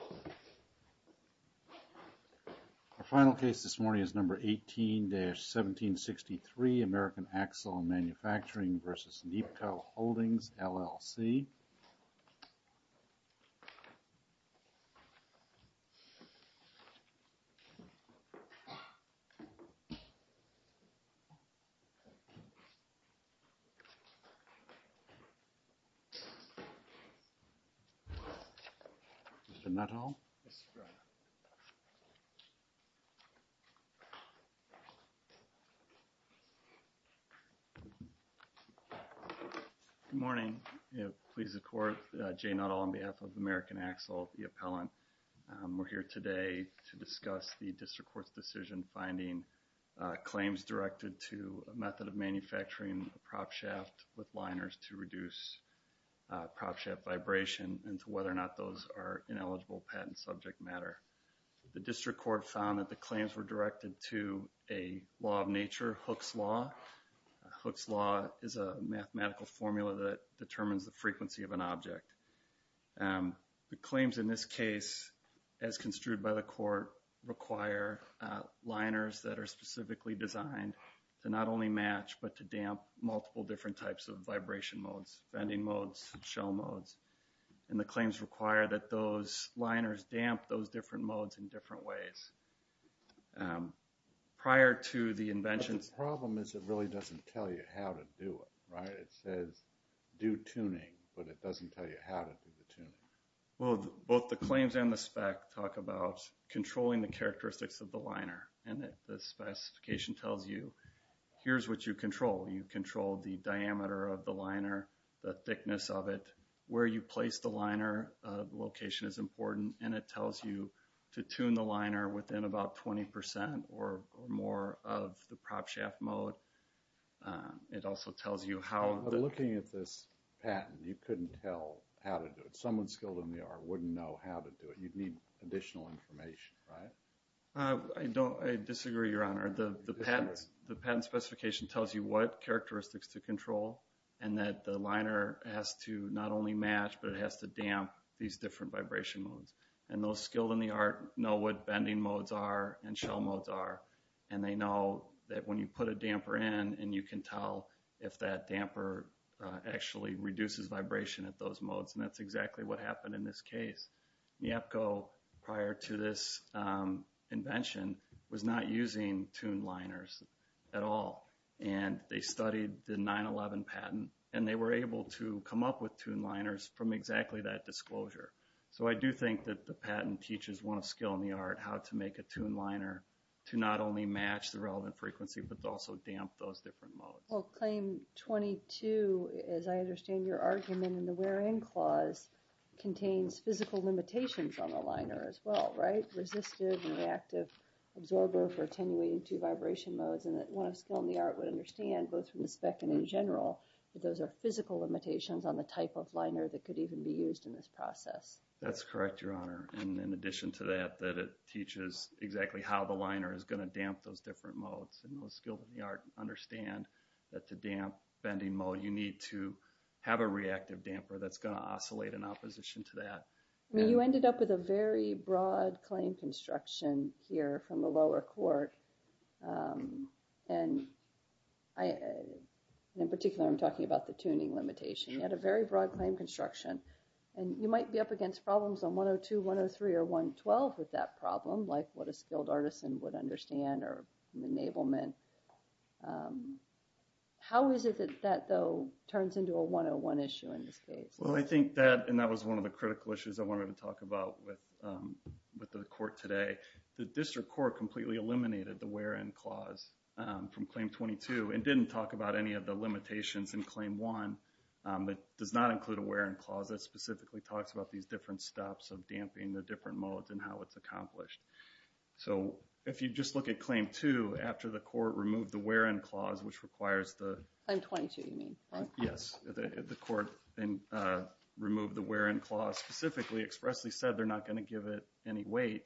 Our final case this morning is number 18-1763 American Axle & Manufacturing v. Neapco Holdings LLC Mr. Nuttall Good morning. Pleased to court. Jay Nuttall on behalf of American Axle, the appellant. We're here today to discuss the district court's decision finding claims directed to a method of manufacturing a prop shaft with liners to reduce prop shaft vibration into whether or not those are ineligible patent subject matter. The district court found that the claims were directed to a law of nature, Hooke's Law. Hooke's Law is a mathematical formula that determines the frequency of an object. The claims in this case, as construed by the court, require liners that are specifically designed to not only match but to damp multiple different types of vibration modes, bending modes, shell modes. And the claims require that those liners damp those different modes in different ways. The problem is it really doesn't tell you how to do it, right? It says do tuning, but it doesn't tell you how to do the tuning. Well, both the claims and the spec talk about controlling the characteristics of the liner. And the specification tells you here's what you control. You control the diameter of the liner, the thickness of it, where you place the liner location is important. And it tells you to tune the liner within about 20% or more of the prop shaft mode. Looking at this patent, you couldn't tell how to do it. Someone skilled in the art wouldn't know how to do it. You'd need additional information, right? I disagree, Your Honor. The patent specification tells you what characteristics to control and that the liner has to not only match, but it has to damp these different vibration modes. And those skilled in the art know what bending modes are and shell modes are. And they know that when you put a damper in and you can tell if that damper actually reduces vibration at those modes. And that's exactly what happened in this case. NEAPCO, prior to this invention, was not using tuned liners at all. And they studied the 9-11 patent and they were able to come up with tuned liners from exactly that disclosure. So I do think that the patent teaches one of skilled in the art how to make a tuned liner to not only match the relevant frequency, but also damp those different modes. Well, Claim 22, as I understand your argument in the wear-in clause, contains physical limitations on the liner as well, right? Resistive and reactive absorber for attenuating two vibration modes. And one of skilled in the art would understand, both from the spec and in general, that those are physical limitations on the type of liner that could even be used in this process. That's correct, Your Honor. And in addition to that, that it teaches exactly how the liner is going to damp those different modes. And those skilled in the art understand that to damp bending mode, you need to have a reactive damper that's going to oscillate in opposition to that. You ended up with a very broad claim construction here from the lower court. And in particular, I'm talking about the tuning limitation. You had a very broad claim construction. And you might be up against problems on 102, 103, or 112 with that problem, like what a skilled artisan would understand or enablement. How is it that that, though, turns into a 101 issue in this case? Well, I think that, and that was one of the critical issues I wanted to talk about with the court today. The district court completely eliminated the wear-in clause from Claim 22 and didn't talk about any of the limitations in Claim 1. It does not include a wear-in clause that specifically talks about these different stops of damping the different modes and how it's accomplished. So, if you just look at Claim 2, after the court removed the wear-in clause, which requires the... removed the wear-in clause specifically, expressly said they're not going to give it any weight.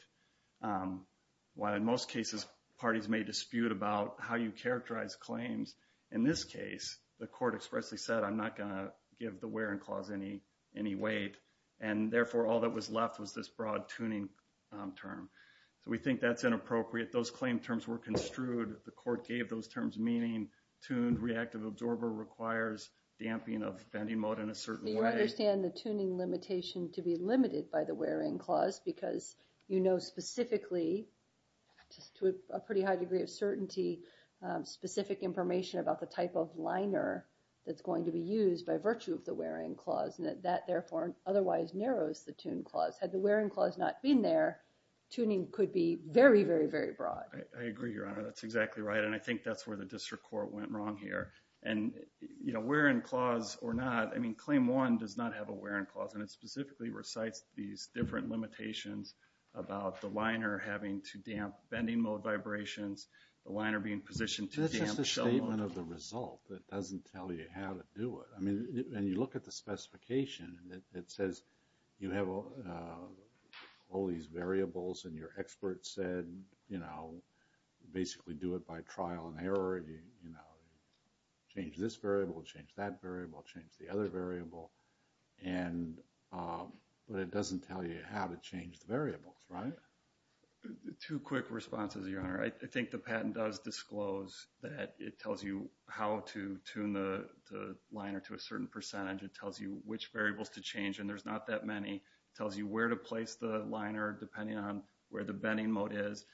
While in most cases, parties may dispute about how you characterize claims, in this case, the court expressly said, I'm not going to give the wear-in clause any weight. And therefore, all that was left was this broad tuning term. So, we think that's inappropriate. Those claim terms were construed. The court gave those terms, meaning tuned reactive absorber requires damping of bending mode in a certain way. So, you understand the tuning limitation to be limited by the wear-in clause because you know specifically, to a pretty high degree of certainty, specific information about the type of liner that's going to be used by virtue of the wear-in clause. And that, therefore, otherwise narrows the tune clause. Had the wear-in clause not been there, tuning could be very, very, very broad. I agree, Your Honor. That's exactly right. And I think that's where the district court went wrong here. And you know, wear-in clause or not, I mean, Claim 1 does not have a wear-in clause. And it specifically recites these different limitations about the liner having to damp bending mode vibrations, the liner being positioned to damp... That's just a statement of the result. It doesn't tell you how to do it. I mean, when you look at the specification, it says you have all these variables and your expert said, you know, basically do it by trial and error. You know, change this variable, change that variable, change the other variable. But it doesn't tell you how to change the variables, right? Two quick responses, Your Honor. I think the patent does disclose that it tells you how to tune the liner to a certain percentage. It tells you which variables to change, and there's not that many. It tells you where to place the liner depending on where the bending mode is.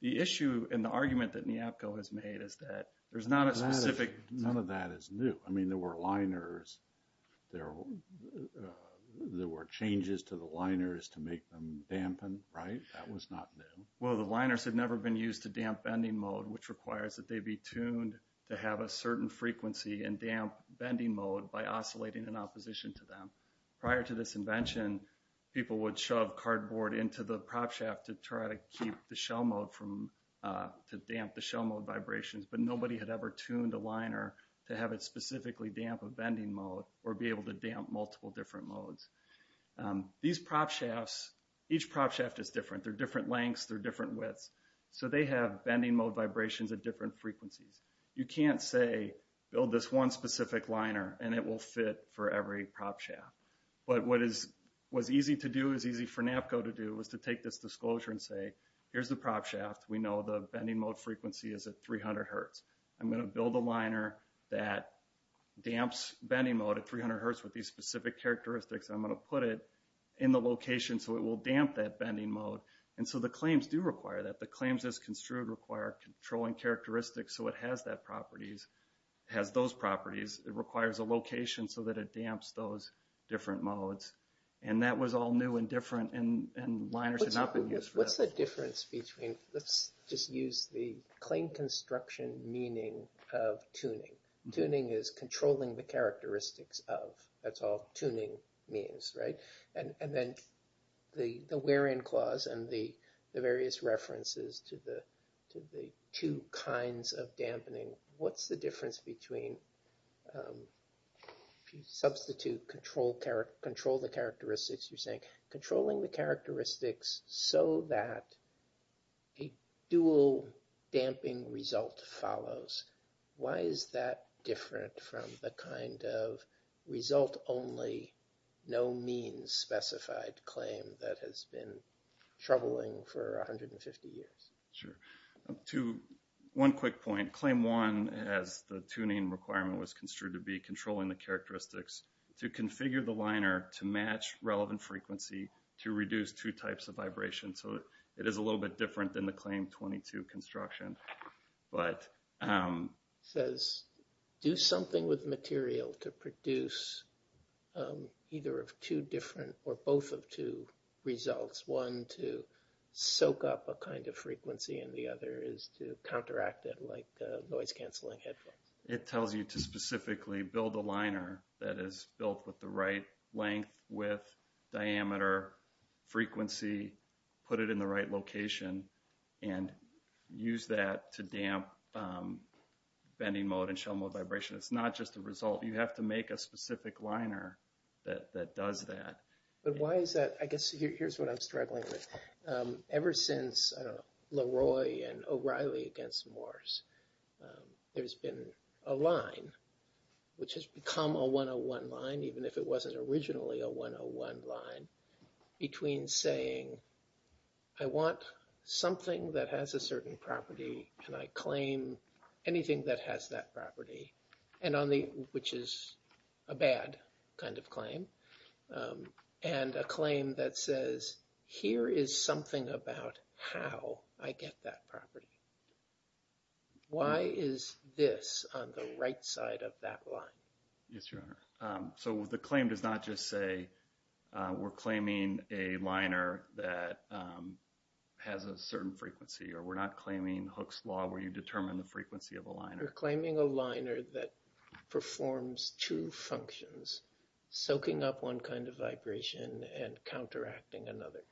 The issue and the argument that NEAPCO has made is that there's not a specific... None of that is new. I mean, there were liners, there were changes to the liners to make them dampen, right? That was not new. Well, the liners had never been used to damp bending mode, which requires that they be tuned to have a certain frequency in damp bending mode by oscillating in opposition to them. Prior to this invention, people would shove cardboard into the prop shaft to try to keep the shell mode from... to damp the shell mode vibrations. But nobody had ever tuned a liner to have it specifically damp of bending mode or be able to damp multiple different modes. These prop shafts, each prop shaft is different. They're different lengths, they're different widths. So they have bending mode vibrations at different frequencies. You can't say, build this one specific liner and it will fit for every prop shaft. But what is easy to do, is easy for NEAPCO to do, is to take this disclosure and say, here's the prop shaft, we know the bending mode frequency is at 300 hertz. I'm going to build a liner that damps bending mode at 300 hertz with these specific characteristics. I'm going to put it in the location so it will damp that bending mode. And so the claims do require that. The claims as construed require controlling characteristics so it has those properties. It requires a location so that it damps those different modes. And that was all new and different, and liners had not been used for that. What's the difference between, let's just use the claim construction meaning of tuning. Tuning is controlling the characteristics of. That's all tuning means, right? And then the where in clause and the various references to the two kinds of dampening. What's the difference between, if you substitute control the characteristics, you're saying controlling the characteristics so that a dual damping result follows. Why is that different from the kind of result only, no means specified claim that has been troubling for 150 years? Sure. To one quick point, claim one, as the tuning requirement was construed to be, controlling the characteristics to configure the liner to match relevant frequency to reduce two types of vibration. So it is a little bit different than the claim 22 construction. It says do something with material to produce either of two different, or both of two results. One to soak up a kind of frequency and the other is to counteract it like noise canceling headphones. It tells you to specifically build a liner that is built with the right length, width, diameter, frequency, put it in the right location, and use that to damp bending mode and shell mode vibration. It's not just a result. You have to make a specific liner that does that. But why is that? I guess here's what I'm struggling with. Ever since Leroy and O'Reilly against Morse, there's been a line, which has become a 101 line, even if it wasn't originally a 101 line, between saying I want something that has a certain property and I claim anything that has that property, which is a bad kind of claim, and a claim that says here is something about how I get that property. Why is this on the right side of that line? Yes, Your Honor. So the claim does not just say we're claiming a liner that has a certain frequency or we're not claiming Hooke's Law where you determine the frequency of a liner. You're claiming a liner that performs two functions, soaking up one kind of vibration and counteracting another.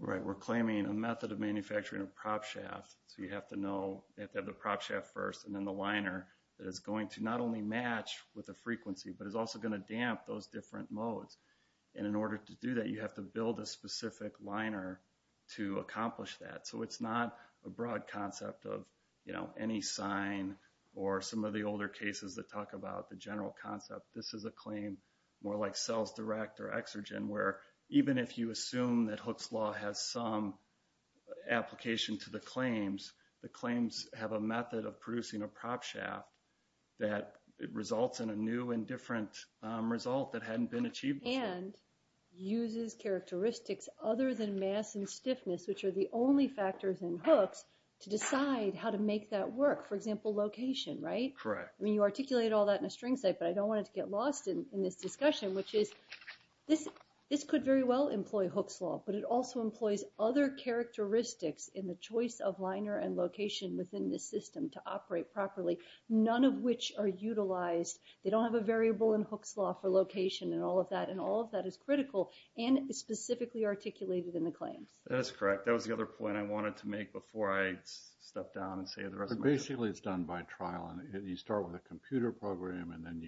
Right. We're claiming a method of manufacturing a prop shaft, so you have to know you have to have the prop shaft first and then the liner that is going to not only match with the frequency but is also going to damp those different modes. And in order to do that, you have to build a specific liner to accomplish that. So it's not a broad concept of, you know, any sign or some of the older cases that talk about the general concept. This is a claim more like sales direct or exergen, where even if you assume that Hooke's Law has some application to the claims, the claims have a method of producing a prop shaft that results in a new and different result that hadn't been achieved before. And uses characteristics other than mass and stiffness, which are the only factors in Hooke's, to decide how to make that work. For example, location, right? Correct. I mean, you articulate all that in a string state, but I don't want it to get lost in this discussion, which is this could very well employ Hooke's Law, but it also employs other characteristics in the choice of liner and location within this system to operate properly, none of which are utilized. They don't have a variable in Hooke's Law for location and all of that, and all of that is critical and is specifically articulated in the claims. That is correct. That was the other point I wanted to make before I step down and say the rest of my time. But basically it's done by trial, and you start with a computer program and then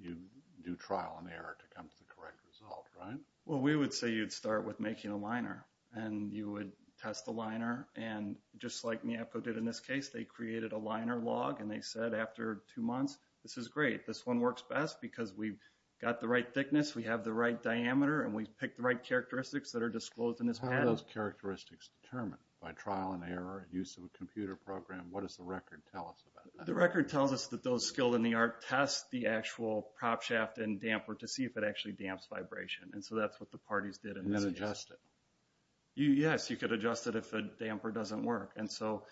you do trial and error to come to the correct result, right? Well, we would say you'd start with making a liner, and you would test the liner. And just like Niapco did in this case, they created a liner log, and they said after two months, this is great. This one works best because we've got the right thickness, we have the right diameter, and we've picked the right characteristics that are disclosed in this pattern. How are those characteristics determined by trial and error, use of a computer program? What does the record tell us about that? The record tells us that those skilled in the art test the actual prop shaft and damper to see if it actually damps vibration. And so that's what the parties did in this case. And adjust it? Yes, you could adjust it if the damper doesn't work. And so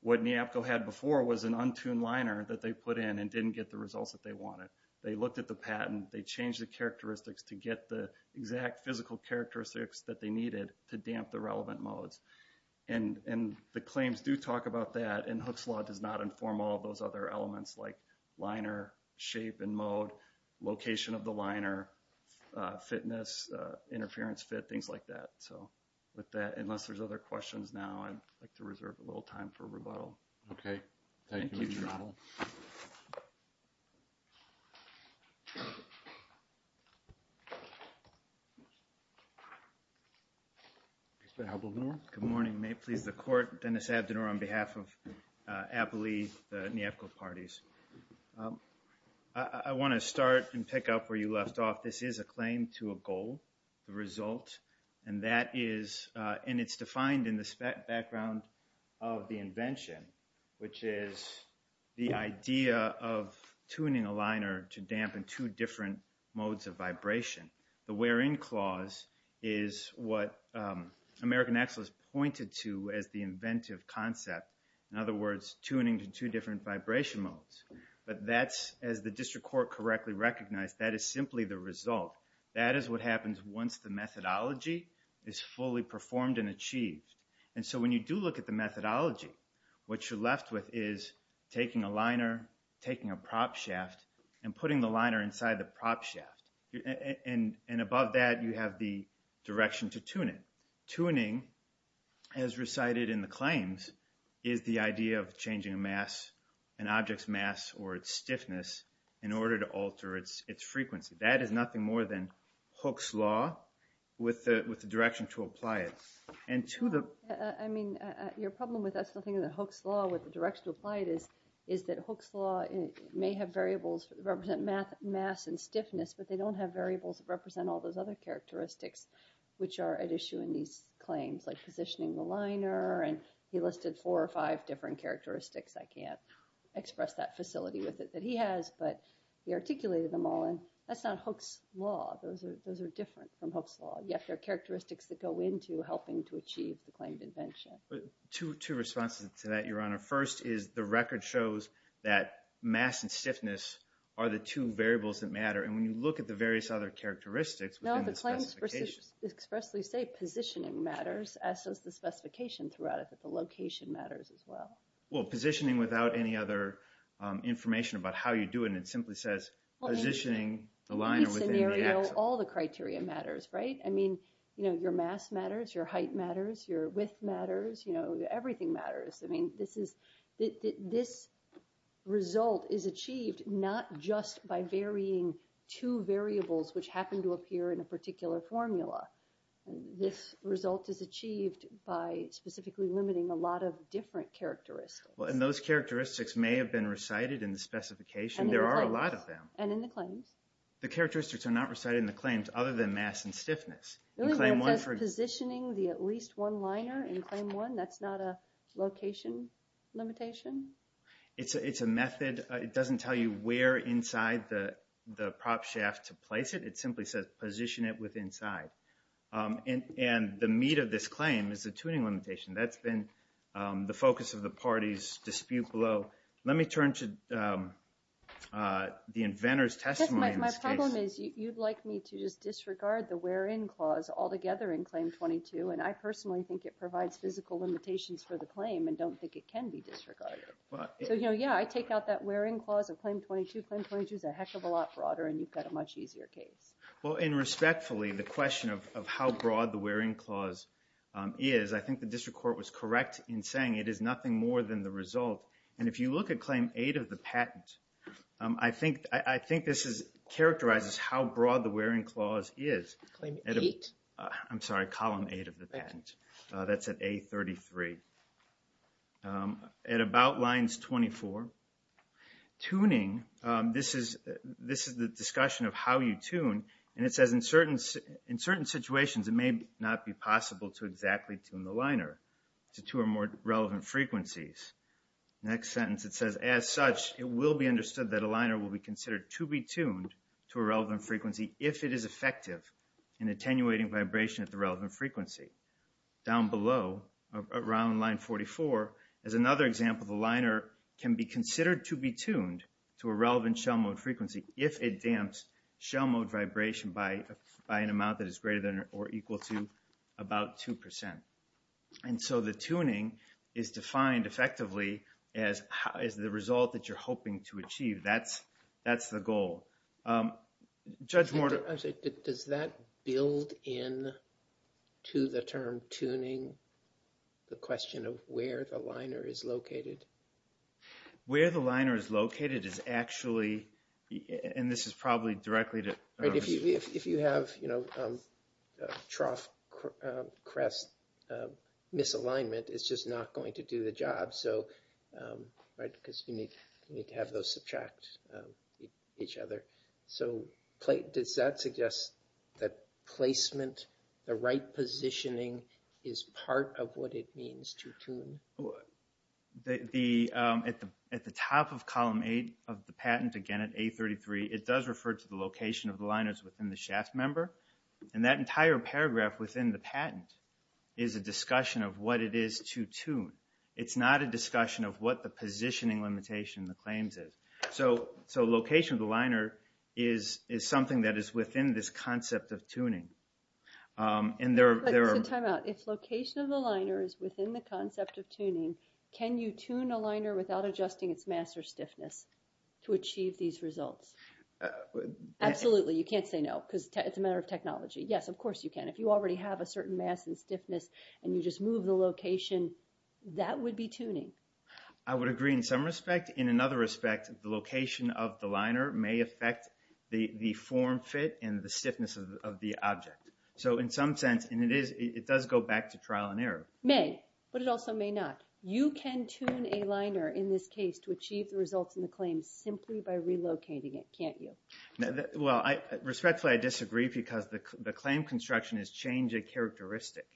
what Niapco had before was an untuned liner that they put in and didn't get the results that they wanted. They looked at the patent, they changed the characteristics to get the exact physical characteristics that they needed to damp the relevant modes. And the claims do talk about that, and Hooke's Law does not inform all those other elements like liner shape and mode, location of the liner, fitness, interference fit, things like that. So with that, unless there's other questions now, I'd like to reserve a little time for rebuttal. Okay. Thank you, Mr. Trottel. Thank you, Mr. Trottel. Good morning. May it please the Court. Dennis Abdener on behalf of Abilene, the Niapco parties. I want to start and pick up where you left off. This is a claim to a goal, the result. And that is, and it's defined in the background of the invention, which is the idea of tuning a liner to dampen two different modes of vibration. The where-in clause is what American Excellus pointed to as the inventive concept. In other words, tuning to two different vibration modes. But that's, as the District Court correctly recognized, that is simply the result. That is what happens once the methodology is fully performed and achieved. And so when you do look at the methodology, what you're left with is taking a liner, taking a prop shaft, and putting the liner inside the prop shaft. And above that, you have the direction to tune it. Tuning, as recited in the claims, is the idea of changing a mass, an object's mass or its stiffness, in order to alter its frequency. That is nothing more than Hooke's Law with the direction to apply it. I mean, your problem with us not thinking of Hooke's Law with the direction to apply it is that Hooke's Law may have variables that represent mass and stiffness, but they don't have variables that represent all those other characteristics which are at issue in these claims, like positioning the liner. And he listed four or five different characteristics. I can't express that facility with it that he has, but he articulated them all. And that's not Hooke's Law. Those are different from Hooke's Law. Yet they're characteristics that go into helping to achieve the claimed invention. Two responses to that, Your Honor. First is the record shows that mass and stiffness are the two variables that matter. And when you look at the various other characteristics within the specification. No, the claims expressly say positioning matters, as does the specification throughout it, that the location matters as well. Well, positioning without any other information about how you do it, and it simply says positioning the liner within the axis. In each scenario, all the criteria matters, right? I mean, you know, your mass matters, your height matters, your width matters. You know, everything matters. I mean, this result is achieved not just by varying two variables which happen to appear in a particular formula. This result is achieved by specifically limiting a lot of different characteristics. Well, and those characteristics may have been recited in the specification. There are a lot of them. And in the claims. The characteristics are not recited in the claims other than mass and stiffness. It only says positioning the at least one liner in claim one. That's not a location limitation? It's a method. It doesn't tell you where inside the prop shaft to place it. It simply says position it with inside. And the meat of this claim is the tuning limitation. That's been the focus of the party's dispute below. Let me turn to the inventor's testimony in this case. My problem is you'd like me to just disregard the where in clause altogether in claim 22, and I personally think it provides physical limitations for the claim and don't think it can be disregarded. So, yeah, I take out that where in clause of claim 22. Claim 22 is a heck of a lot broader, and you've got a much easier case. Well, and respectfully, the question of how broad the where in clause is, I think the district court was correct in saying it is nothing more than the result. And if you look at claim 8 of the patent, I think this characterizes how broad the where in clause is. Claim 8? I'm sorry, column 8 of the patent. That's at A33. At about lines 24. Tuning, this is the discussion of how you tune, and it says in certain situations it may not be possible to exactly tune the liner to two or more relevant frequencies. Next sentence, it says, as such, it will be understood that a liner will be considered to be tuned to a relevant frequency if it is effective in attenuating vibration at the relevant frequency. Down below, around line 44, is another example. The liner can be considered to be tuned to a relevant shell mode frequency if it damps shell mode vibration by an amount that is greater than or equal to about 2%. And so the tuning is defined effectively as the result that you're hoping to achieve. That's the goal. Judge Morton? I'm sorry, does that build in to the term tuning, the question of where the liner is located? Where the liner is located is actually, and this is probably directly to... If you have trough crest misalignment, it's just not going to do the job. Because you need to have those subtract each other. So does that suggest that placement, the right positioning, is part of what it means to tune? At the top of column 8 of the patent, again at A33, it does refer to the location of the liners within the shaft member. And that entire paragraph within the patent is a discussion of what it is to tune. It's not a discussion of what the positioning limitation in the claims is. So location of the liner is something that is within this concept of tuning. So time out, if location of the liner is within the concept of tuning, can you tune a liner without adjusting its mass or stiffness to achieve these results? Absolutely, you can't say no because it's a matter of technology. Yes, of course you can. If you already have a certain mass and stiffness, and you just move the location, that would be tuning. I would agree in some respect. In another respect, the location of the liner may affect the form fit and the stiffness of the object. So in some sense, it does go back to trial and error. It may, but it also may not. You can tune a liner in this case to achieve the results in the claims simply by relocating it, can't you? Respectfully, I disagree because the claim construction is changing characteristic.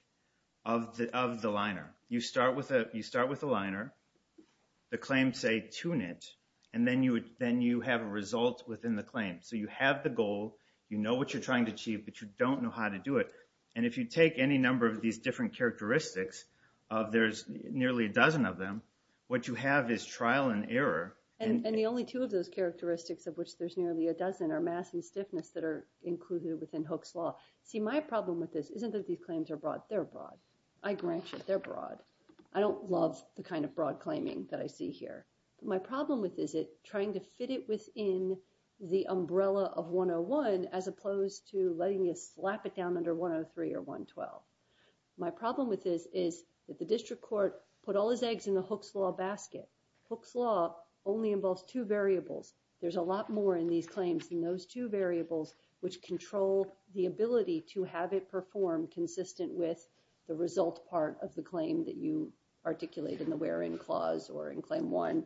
Of the liner. You start with the liner, the claims say tune it, and then you have a result within the claim. So you have the goal, you know what you're trying to achieve, but you don't know how to do it. And if you take any number of these different characteristics, there's nearly a dozen of them, what you have is trial and error. And the only two of those characteristics of which there's nearly a dozen are mass and stiffness that are included within Hooke's Law. See, my problem with this isn't that these claims are broad, they're broad. I grant you, they're broad. I don't love the kind of broad claiming that I see here. My problem with this is trying to fit it within the umbrella of 101 as opposed to letting you slap it down under 103 or 112. My problem with this is that the district court put all his eggs in the Hooke's Law basket. Hooke's Law only involves two variables. There's a lot more in these claims than those two variables which control the ability to have it perform consistent with the result part of the claim that you articulate in the wear-in clause or in Claim 1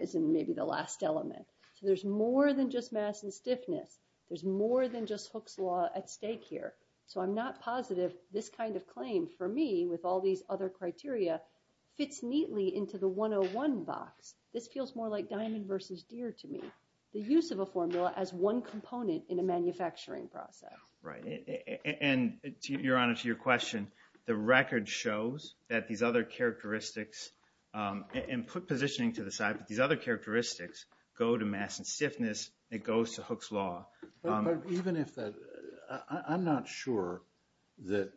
as in maybe the last element. So there's more than just mass and stiffness. There's more than just Hooke's Law at stake here. So I'm not positive this kind of claim, for me, with all these other criteria, fits neatly into the 101 box. This feels more like diamond versus deer to me. The use of a formula as one component in a manufacturing process. Right. And, Your Honor, to your question, the record shows that these other characteristics and put positioning to the side, but these other characteristics go to mass and stiffness. It goes to Hooke's Law. But even if that, I'm not sure that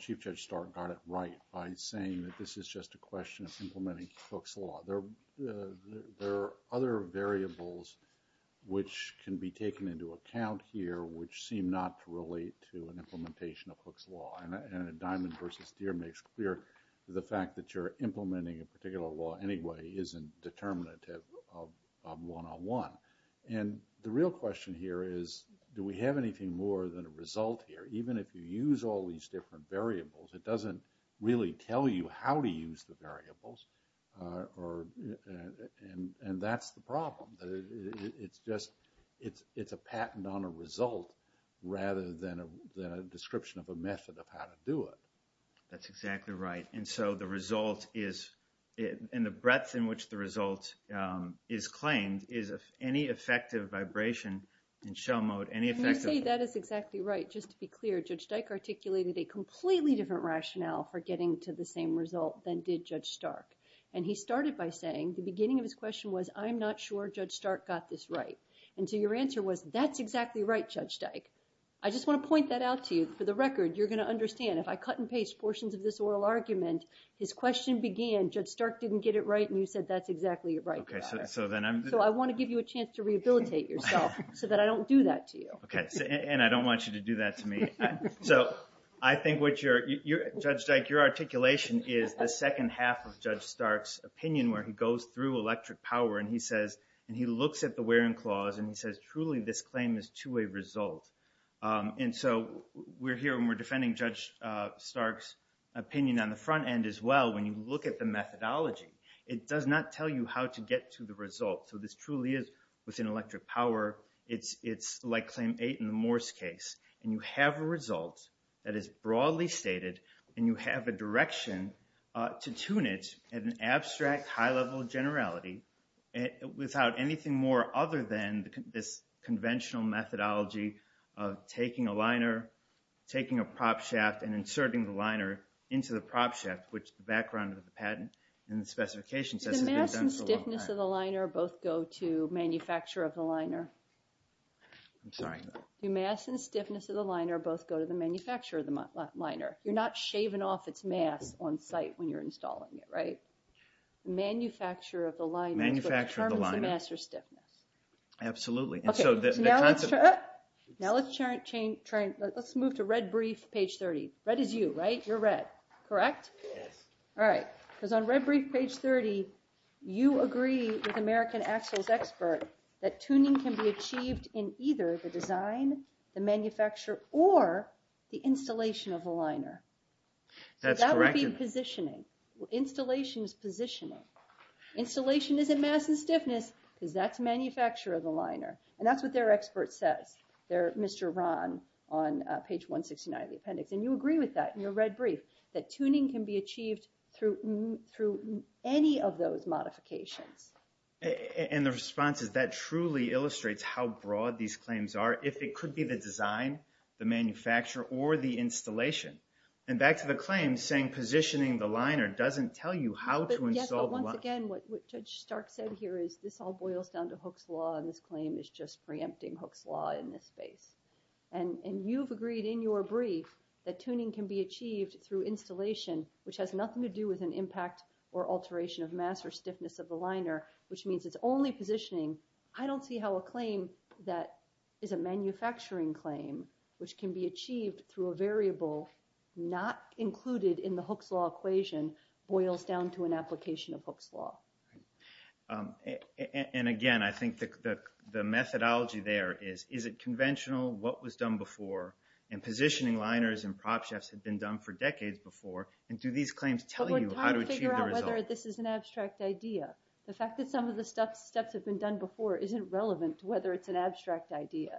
Chief Judge Stark got it right by saying that this is just a question of implementing Hooke's Law. There are other variables which can be taken into account here which seem not to relate to an implementation of Hooke's Law. And a diamond versus deer makes clear the fact that you're implementing a particular law anyway isn't determinative of 101. And the real question here is do we have anything more than a result here? Even if you use all these different variables, it doesn't really tell you how to use the variables and that's the problem. It's just a patent on a result rather than a description of a method of how to do it. That's exactly right. And so the result is, and the breadth in which the result is claimed is any effective vibration in show mode, any effective... When you say that is exactly right, just to be clear, Judge Dyke articulated a completely different rationale for getting to the same result than did Judge Stark. And he started by saying, the beginning of his question was, I'm not sure Judge Stark got this right. And so your answer was, that's exactly right, Judge Dyke. I just want to point that out to you. For the record, you're going to understand, if I cut and paste portions of this oral argument, his question began, Judge Stark didn't get it right and you said that's exactly right. So I want to give you a chance to rehabilitate yourself so that I don't do that to you. And I don't want you to do that to me. So I think what you're... Judge Dyke, your articulation is the second half of Judge Stark's opinion where he goes through electric power and he says, and he looks at the Waring Clause and he says, truly this claim is to a result. And so we're here and we're defending Judge Stark's opinion on the front end as well. When you look at the methodology, it does not tell you how to get to the result. So this truly is within electric power. It's like Claim 8 in the Morse case. And you have a result that is broadly stated and you have a direction to tune it at an abstract high level of generality without anything more other than this conventional methodology of taking a liner, taking a prop shaft and inserting the liner into the prop shaft, which the background of the patent and the specification says... The mass and stiffness of the liner both go to manufacturer of the liner. I'm sorry. The mass and stiffness of the liner both go to the manufacturer of the liner. You're not shaving off its mass on site when you're installing it, right? The manufacturer of the liner... Manufacturer of the liner. ...determines the mass or stiffness. Absolutely. Now let's move to Red Brief, page 30. Red is you, right? You're Red, correct? Yes. All right, because on Red Brief, page 30, you agree with American Axle's expert that tuning can be achieved in either the design, the manufacturer, or the installation of the liner. So that would be positioning. Installation is positioning. Installation isn't mass and stiffness because that's manufacturer of the liner. And that's what their expert says. They're Mr. Ron on page 169 of the appendix. And you agree with that in your Red Brief that tuning can be achieved through any of those modifications. And the response is, that truly illustrates how broad these claims are. If it could be the design, the manufacturer, or the installation. And back to the claim saying positioning the liner doesn't tell you how to install the liner. Yes, but once again, what Judge Stark said here is this all boils down to Hooke's Law, and this claim is just preempting Hooke's Law in this space. And you've agreed in your brief that tuning can be achieved through installation, which has nothing to do with an impact or alteration of mass or stiffness of the liner, which means it's only positioning. I don't see how a claim that is a manufacturing claim, which can be achieved through a variable not included in the Hooke's Law equation, boils down to an application of Hooke's Law. And again, I think the methodology there is, is it conventional, what was done before? And positioning liners and prop shafts had been done for decades before. And do these claims tell you how to achieve the result? But we're trying to figure out whether this is an abstract idea. The fact that some of the steps have been done before isn't relevant to whether it's an abstract idea.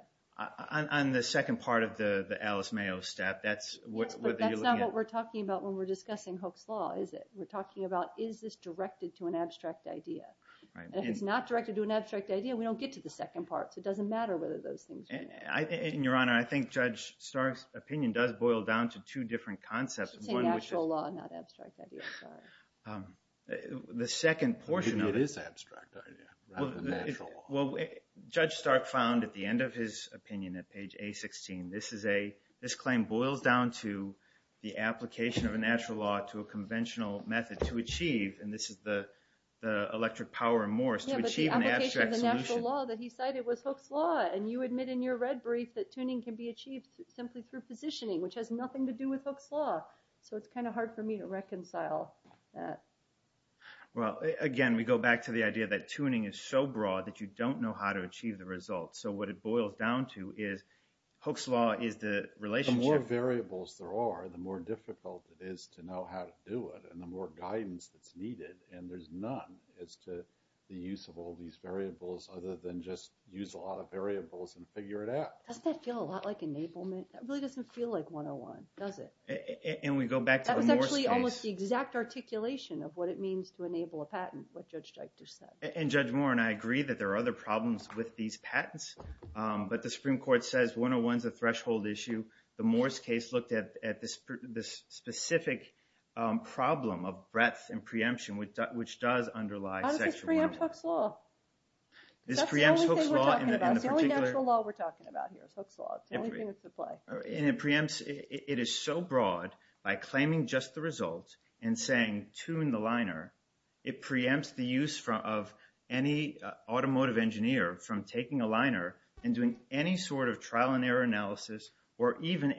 On the second part of the Alice Mayo step, that's what you're looking at. Yes, but that's not what we're talking about when we're discussing Hooke's Law, is it? We're talking about, is this directed to an abstract idea? And if it's not directed to an abstract idea, we don't get to the second part, so it doesn't matter whether those things are. And Your Honor, I think Judge Stark's opinion does boil down to two different concepts. It's a natural law, not abstract idea, sorry. The second portion of it... It is an abstract idea, not a natural law. Well, Judge Stark found at the end of his opinion at page A-16, this claim boils down to the application of a natural law to a conventional method to achieve, and this is the electric power in Morse, to achieve an abstract solution. Yeah, but the application of the natural law that he cited was Hooke's Law, and you admit in your red brief that tuning can be achieved simply through positioning, which has nothing to do with Hooke's Law, so it's kind of hard for me to reconcile that. Well, again, we go back to the idea that tuning is so broad that you don't know how to achieve the result, so what it boils down to is Hooke's Law is the relationship... The more variables there are, the more difficult it is to know how to do it, and the more guidance that's needed, and there's none as to the use of all these variables other than just use a lot of variables and figure it out. Doesn't that feel a lot like enablement? That really doesn't feel like 101, does it? And we go back to the Morse case. That was actually almost the exact articulation of what it means to enable a patent, what Judge Deichter said. And Judge Moore and I agree that there are other problems with these patents, but the Supreme Court says 101's a threshold issue. The Morse case looked at this specific problem of breadth and preemption, which does underlie sexual... How does this preempt Hooke's Law? This preempts Hooke's Law in the particular... That's the only thing we're talking about. The only natural law we're talking about here is Hooke's Law. It's the only thing that's at play. And it preempts... It is so broad by claiming just the results and saying tune the liner, it preempts the use of any automotive engineer from taking a liner and doing any sort of trial and error analysis or even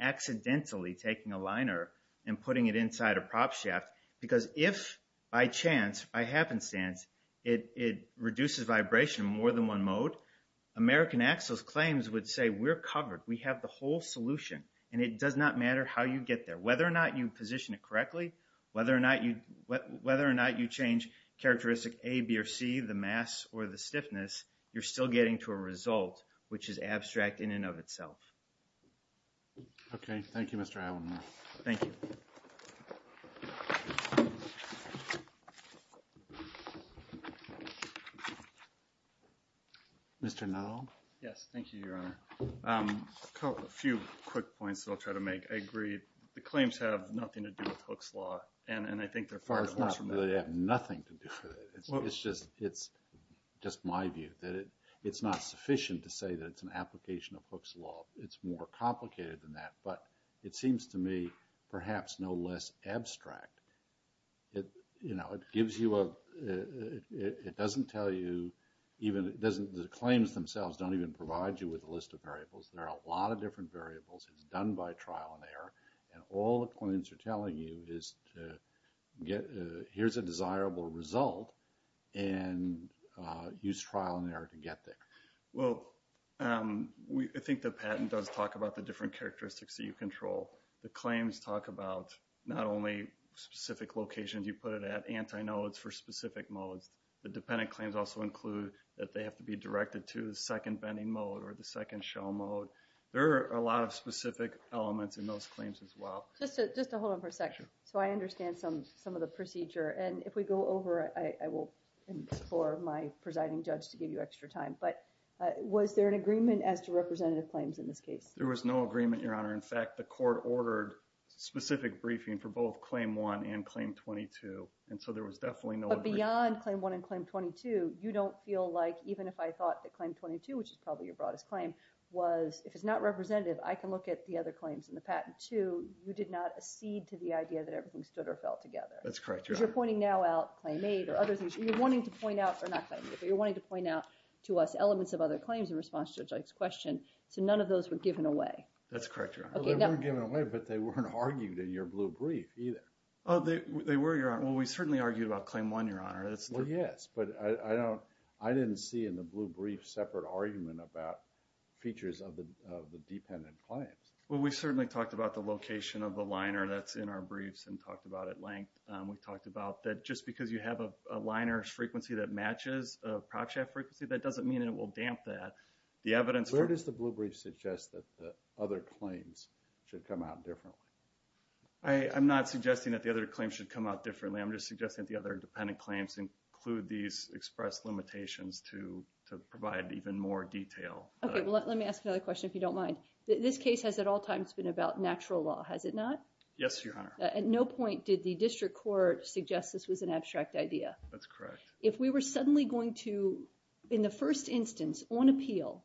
accidentally taking a liner and putting it inside a prop shaft because if by chance, by happenstance, it reduces vibration more than one mode, American Axles claims would say we're covered. We have the whole solution and it does not matter how you get there. Whether or not you position it correctly, whether or not you change characteristic A, B, or C, the mass or the stiffness, you're still getting to a result which is abstract in and of itself. Okay. Thank you, Mr. Allen. Thank you. Mr. Nuttall? Yes. Thank you, Your Honor. A few quick points that I'll try to make. I agree the claims have nothing to do with Hooke's Law and I think they're far too close from that. They have nothing to do with it. It's just my view that it's not sufficient to say that it's an application of Hooke's Law. It's more complicated than that. But it seems to me perhaps no less abstract. It gives you a... It doesn't tell you... The claims themselves don't even provide you with a list of variables. There are a lot of different variables. It's done by trial and error. And all the claims are telling you is here's a desirable result and use trial and error to get there. Well, I think the patent does talk about the different characteristics that you control. The claims talk about not only specific locations you put it at, antinodes for specific modes. The dependent claims also include that they have to be directed to the second bending mode or the second shell mode. There are a lot of specific elements in those claims as well. Just to hold on for a second. So I understand some of the procedure. And if we go over, I will... for my presiding judge to give you extra time. But was there an agreement as to representative claims in this case? There was no agreement, Your Honor. In fact, the court ordered specific briefing for both Claim 1 and Claim 22. And so there was definitely no... But beyond Claim 1 and Claim 22, you don't feel like, even if I thought that Claim 22, which is probably your broadest claim, was, if it's not representative, I can look at the other claims in the patent too. You did not accede to the idea that everything stood or fell together. That's correct, Your Honor. Because you're pointing now out Claim 8 or other things. You're wanting to point out... or not claiming it, but you're wanting to point out to us elements of other claims in response to Judge Ike's question. So none of those were given away. That's correct, Your Honor. They weren't given away, but they weren't argued in your blue brief either. Oh, they were, Your Honor. Well, we certainly argued about Claim 1, Your Honor. Well, yes, but I don't... I didn't see in the blue brief separate argument about features of the dependent claims. Well, we certainly talked about the location of the liner that's in our briefs and talked about it at length. We talked about that just because you have a liner's frequency that matches a prop shaft frequency, that doesn't mean it will damp that. The evidence... Where does the blue brief suggest that the other claims should come out differently? I'm not suggesting that the other claims should come out differently. I'm just suggesting that the other dependent claims include these expressed limitations to provide even more detail. Okay, well, let me ask another question, if you don't mind. This case has at all times been about natural law, has it not? Yes, Your Honor. At no point did the district court suggest this was an abstract idea. That's correct. If we were suddenly going to, in the first instance, on appeal,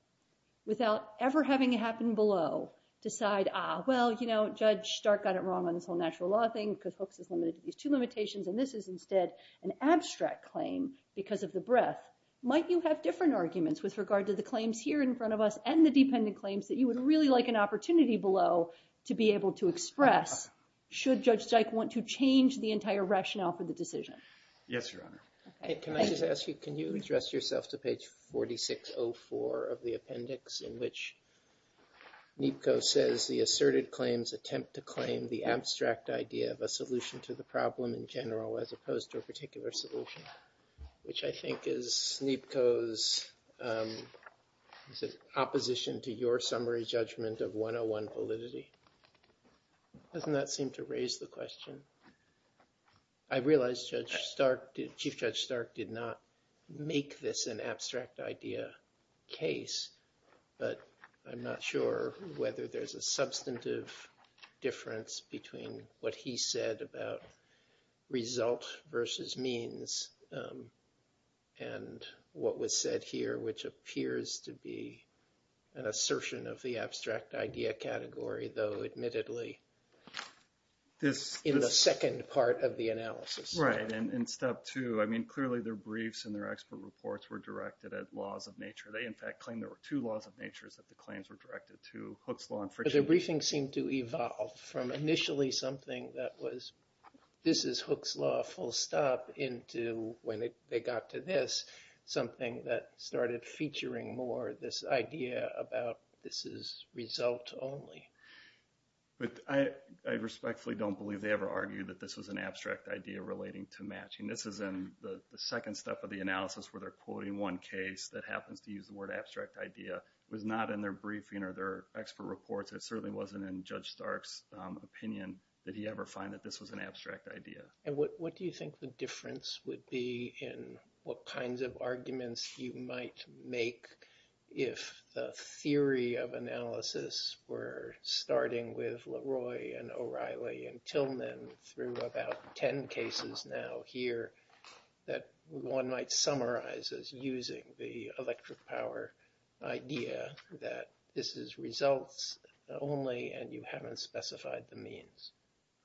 without ever having it happen below, decide, ah, well, you know, Judge Stark got it wrong on this whole natural law thing because Hooks is limited to these two limitations, and this is instead an abstract claim because of the breadth, might you have different arguments with regard to the claims here in front of us and the dependent claims that you would really like an opportunity below to be able to express, should Judge Dyke want to change the entire rationale for the decision? Yes, Your Honor. Can I just ask you, can you address yourself to page 4604 of the appendix in which Neepko says, the asserted claims attempt to claim the abstract idea of a solution to the problem in general as opposed to a particular solution, which I think is Neepko's opposition to your summary judgment of 101 validity. Doesn't that seem to raise the question? I realize Judge Stark, Chief Judge Stark, did not make this an abstract idea case, but I'm not sure whether there's a substantive difference between what he said about result versus means and what was said here, which appears to be an assertion of the abstract idea category, though admittedly, in the second part of the analysis. Right, and step two, I mean, clearly their briefs and their expert reports were directed at laws of nature. They, in fact, claim there were two laws of nature that the claims were directed to, Hooke's law and friction. But their briefings seem to evolve from initially something that was, this is Hooke's law, full stop, into when they got to this, something that started featuring more this idea about this is result only. But I respectfully don't believe they ever argued that this was an abstract idea relating to matching. This is in the second step of the analysis where they're quoting one case that happens to use the word abstract idea. It was not in their briefing or their expert reports. It certainly wasn't in Judge Stark's opinion that he ever found that this was an abstract idea. And what do you think the difference would be in what kinds of arguments you might make if the theory of analysis were starting with Leroy and O'Reilly and Tillman through about 10 cases now here that one might summarize as using the electric power idea that this is results only and you haven't specified the means.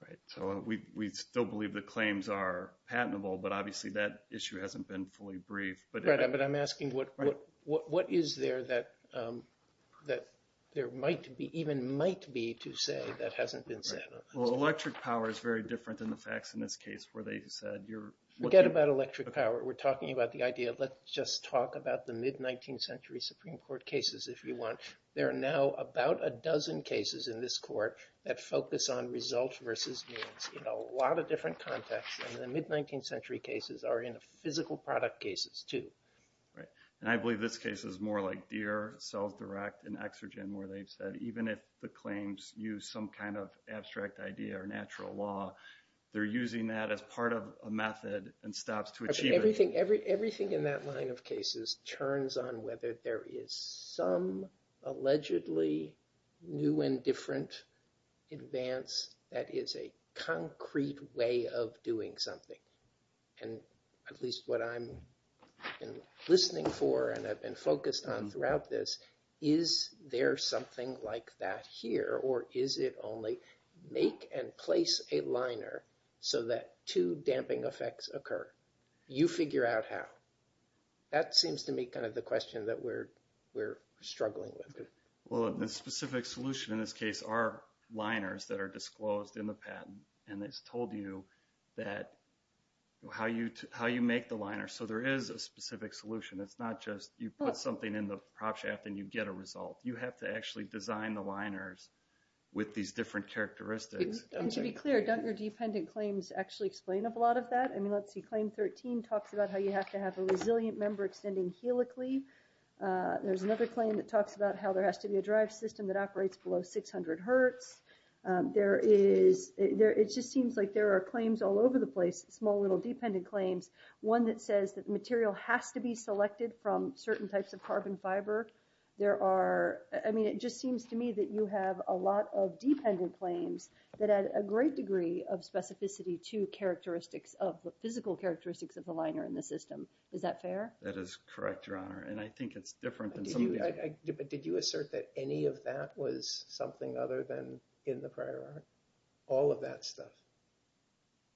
Right. So we still believe the claims are patentable, but obviously that issue hasn't been fully briefed. Right, but I'm asking what is there that there might be, even might be to say that hasn't been said. Well, electric power is very different than the facts in this case where they said you're... Forget about electric power. We're talking about the idea of let's just talk about the mid-19th century Supreme Court cases if you want. There are now about a dozen cases in this court that focus on results versus means in a lot of different contexts. And the mid-19th century cases are in the physical product cases too. Right. And I believe this case is more like Deere, CellsDirect, and Exogen where they've said even if the claims use some kind of abstract idea or natural law, they're using that as part of a method and stops to achieve it. Everything in that line of cases churns on whether there is some allegedly new and different advance that is a concrete way of doing something. And at least what I'm listening for and have been focused on throughout this, is there something like that here or is it only make and place a liner so that two damping effects occur? You figure out how. That seems to me kind of the question that we're struggling with. Well, the specific solution in this case are liners that are disclosed in the patent and it's told you how you make the liner. So there is a specific solution. It's not just you put something in the prop shaft and you get a result. You have to actually design the liners with these different characteristics. And to be clear, don't your dependent claims actually explain a lot of that? I mean, let's see, claim 13 talks about how you have to have a resilient member extending helically. There's another claim that talks about how there has to be a drive system that operates below 600 hertz. There is, it just seems like there are claims all over the place, small little dependent claims. One that says that the material has to be selected from certain types of carbon fiber. There are, I mean, it just seems to me that you have a lot of dependent claims that add a great degree of specificity to characteristics of, physical characteristics of the liner in the system. Is that fair? That is correct, Your Honor. And I think it's different than some... Did you assert that any of that was something other than in the prior art? All of that stuff?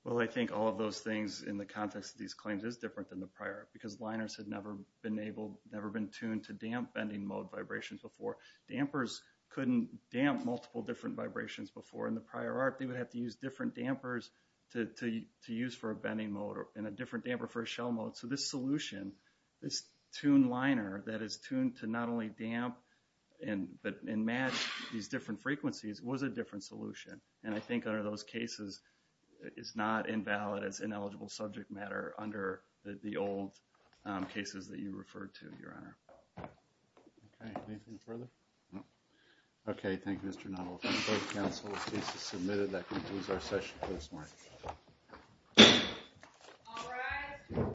Well, I think all of those things in the context of these claims is different than the prior art because liners had never been able, never been tuned to damp bending mode vibrations before. Dampers couldn't damp multiple different vibrations before. In the prior art, they would have to use different dampers to use for a bending mode and a different damper for a shell mode. So this solution, this tuned liner that is tuned to not only damp but match these different frequencies was a different solution. And I think under those cases it's not invalid as ineligible subject matter under the old cases that you referred to, Your Honor. Okay, anything further? No. Okay, thank you, Mr. Nuttall. If there's a case that's submitted that concludes our session for this morning.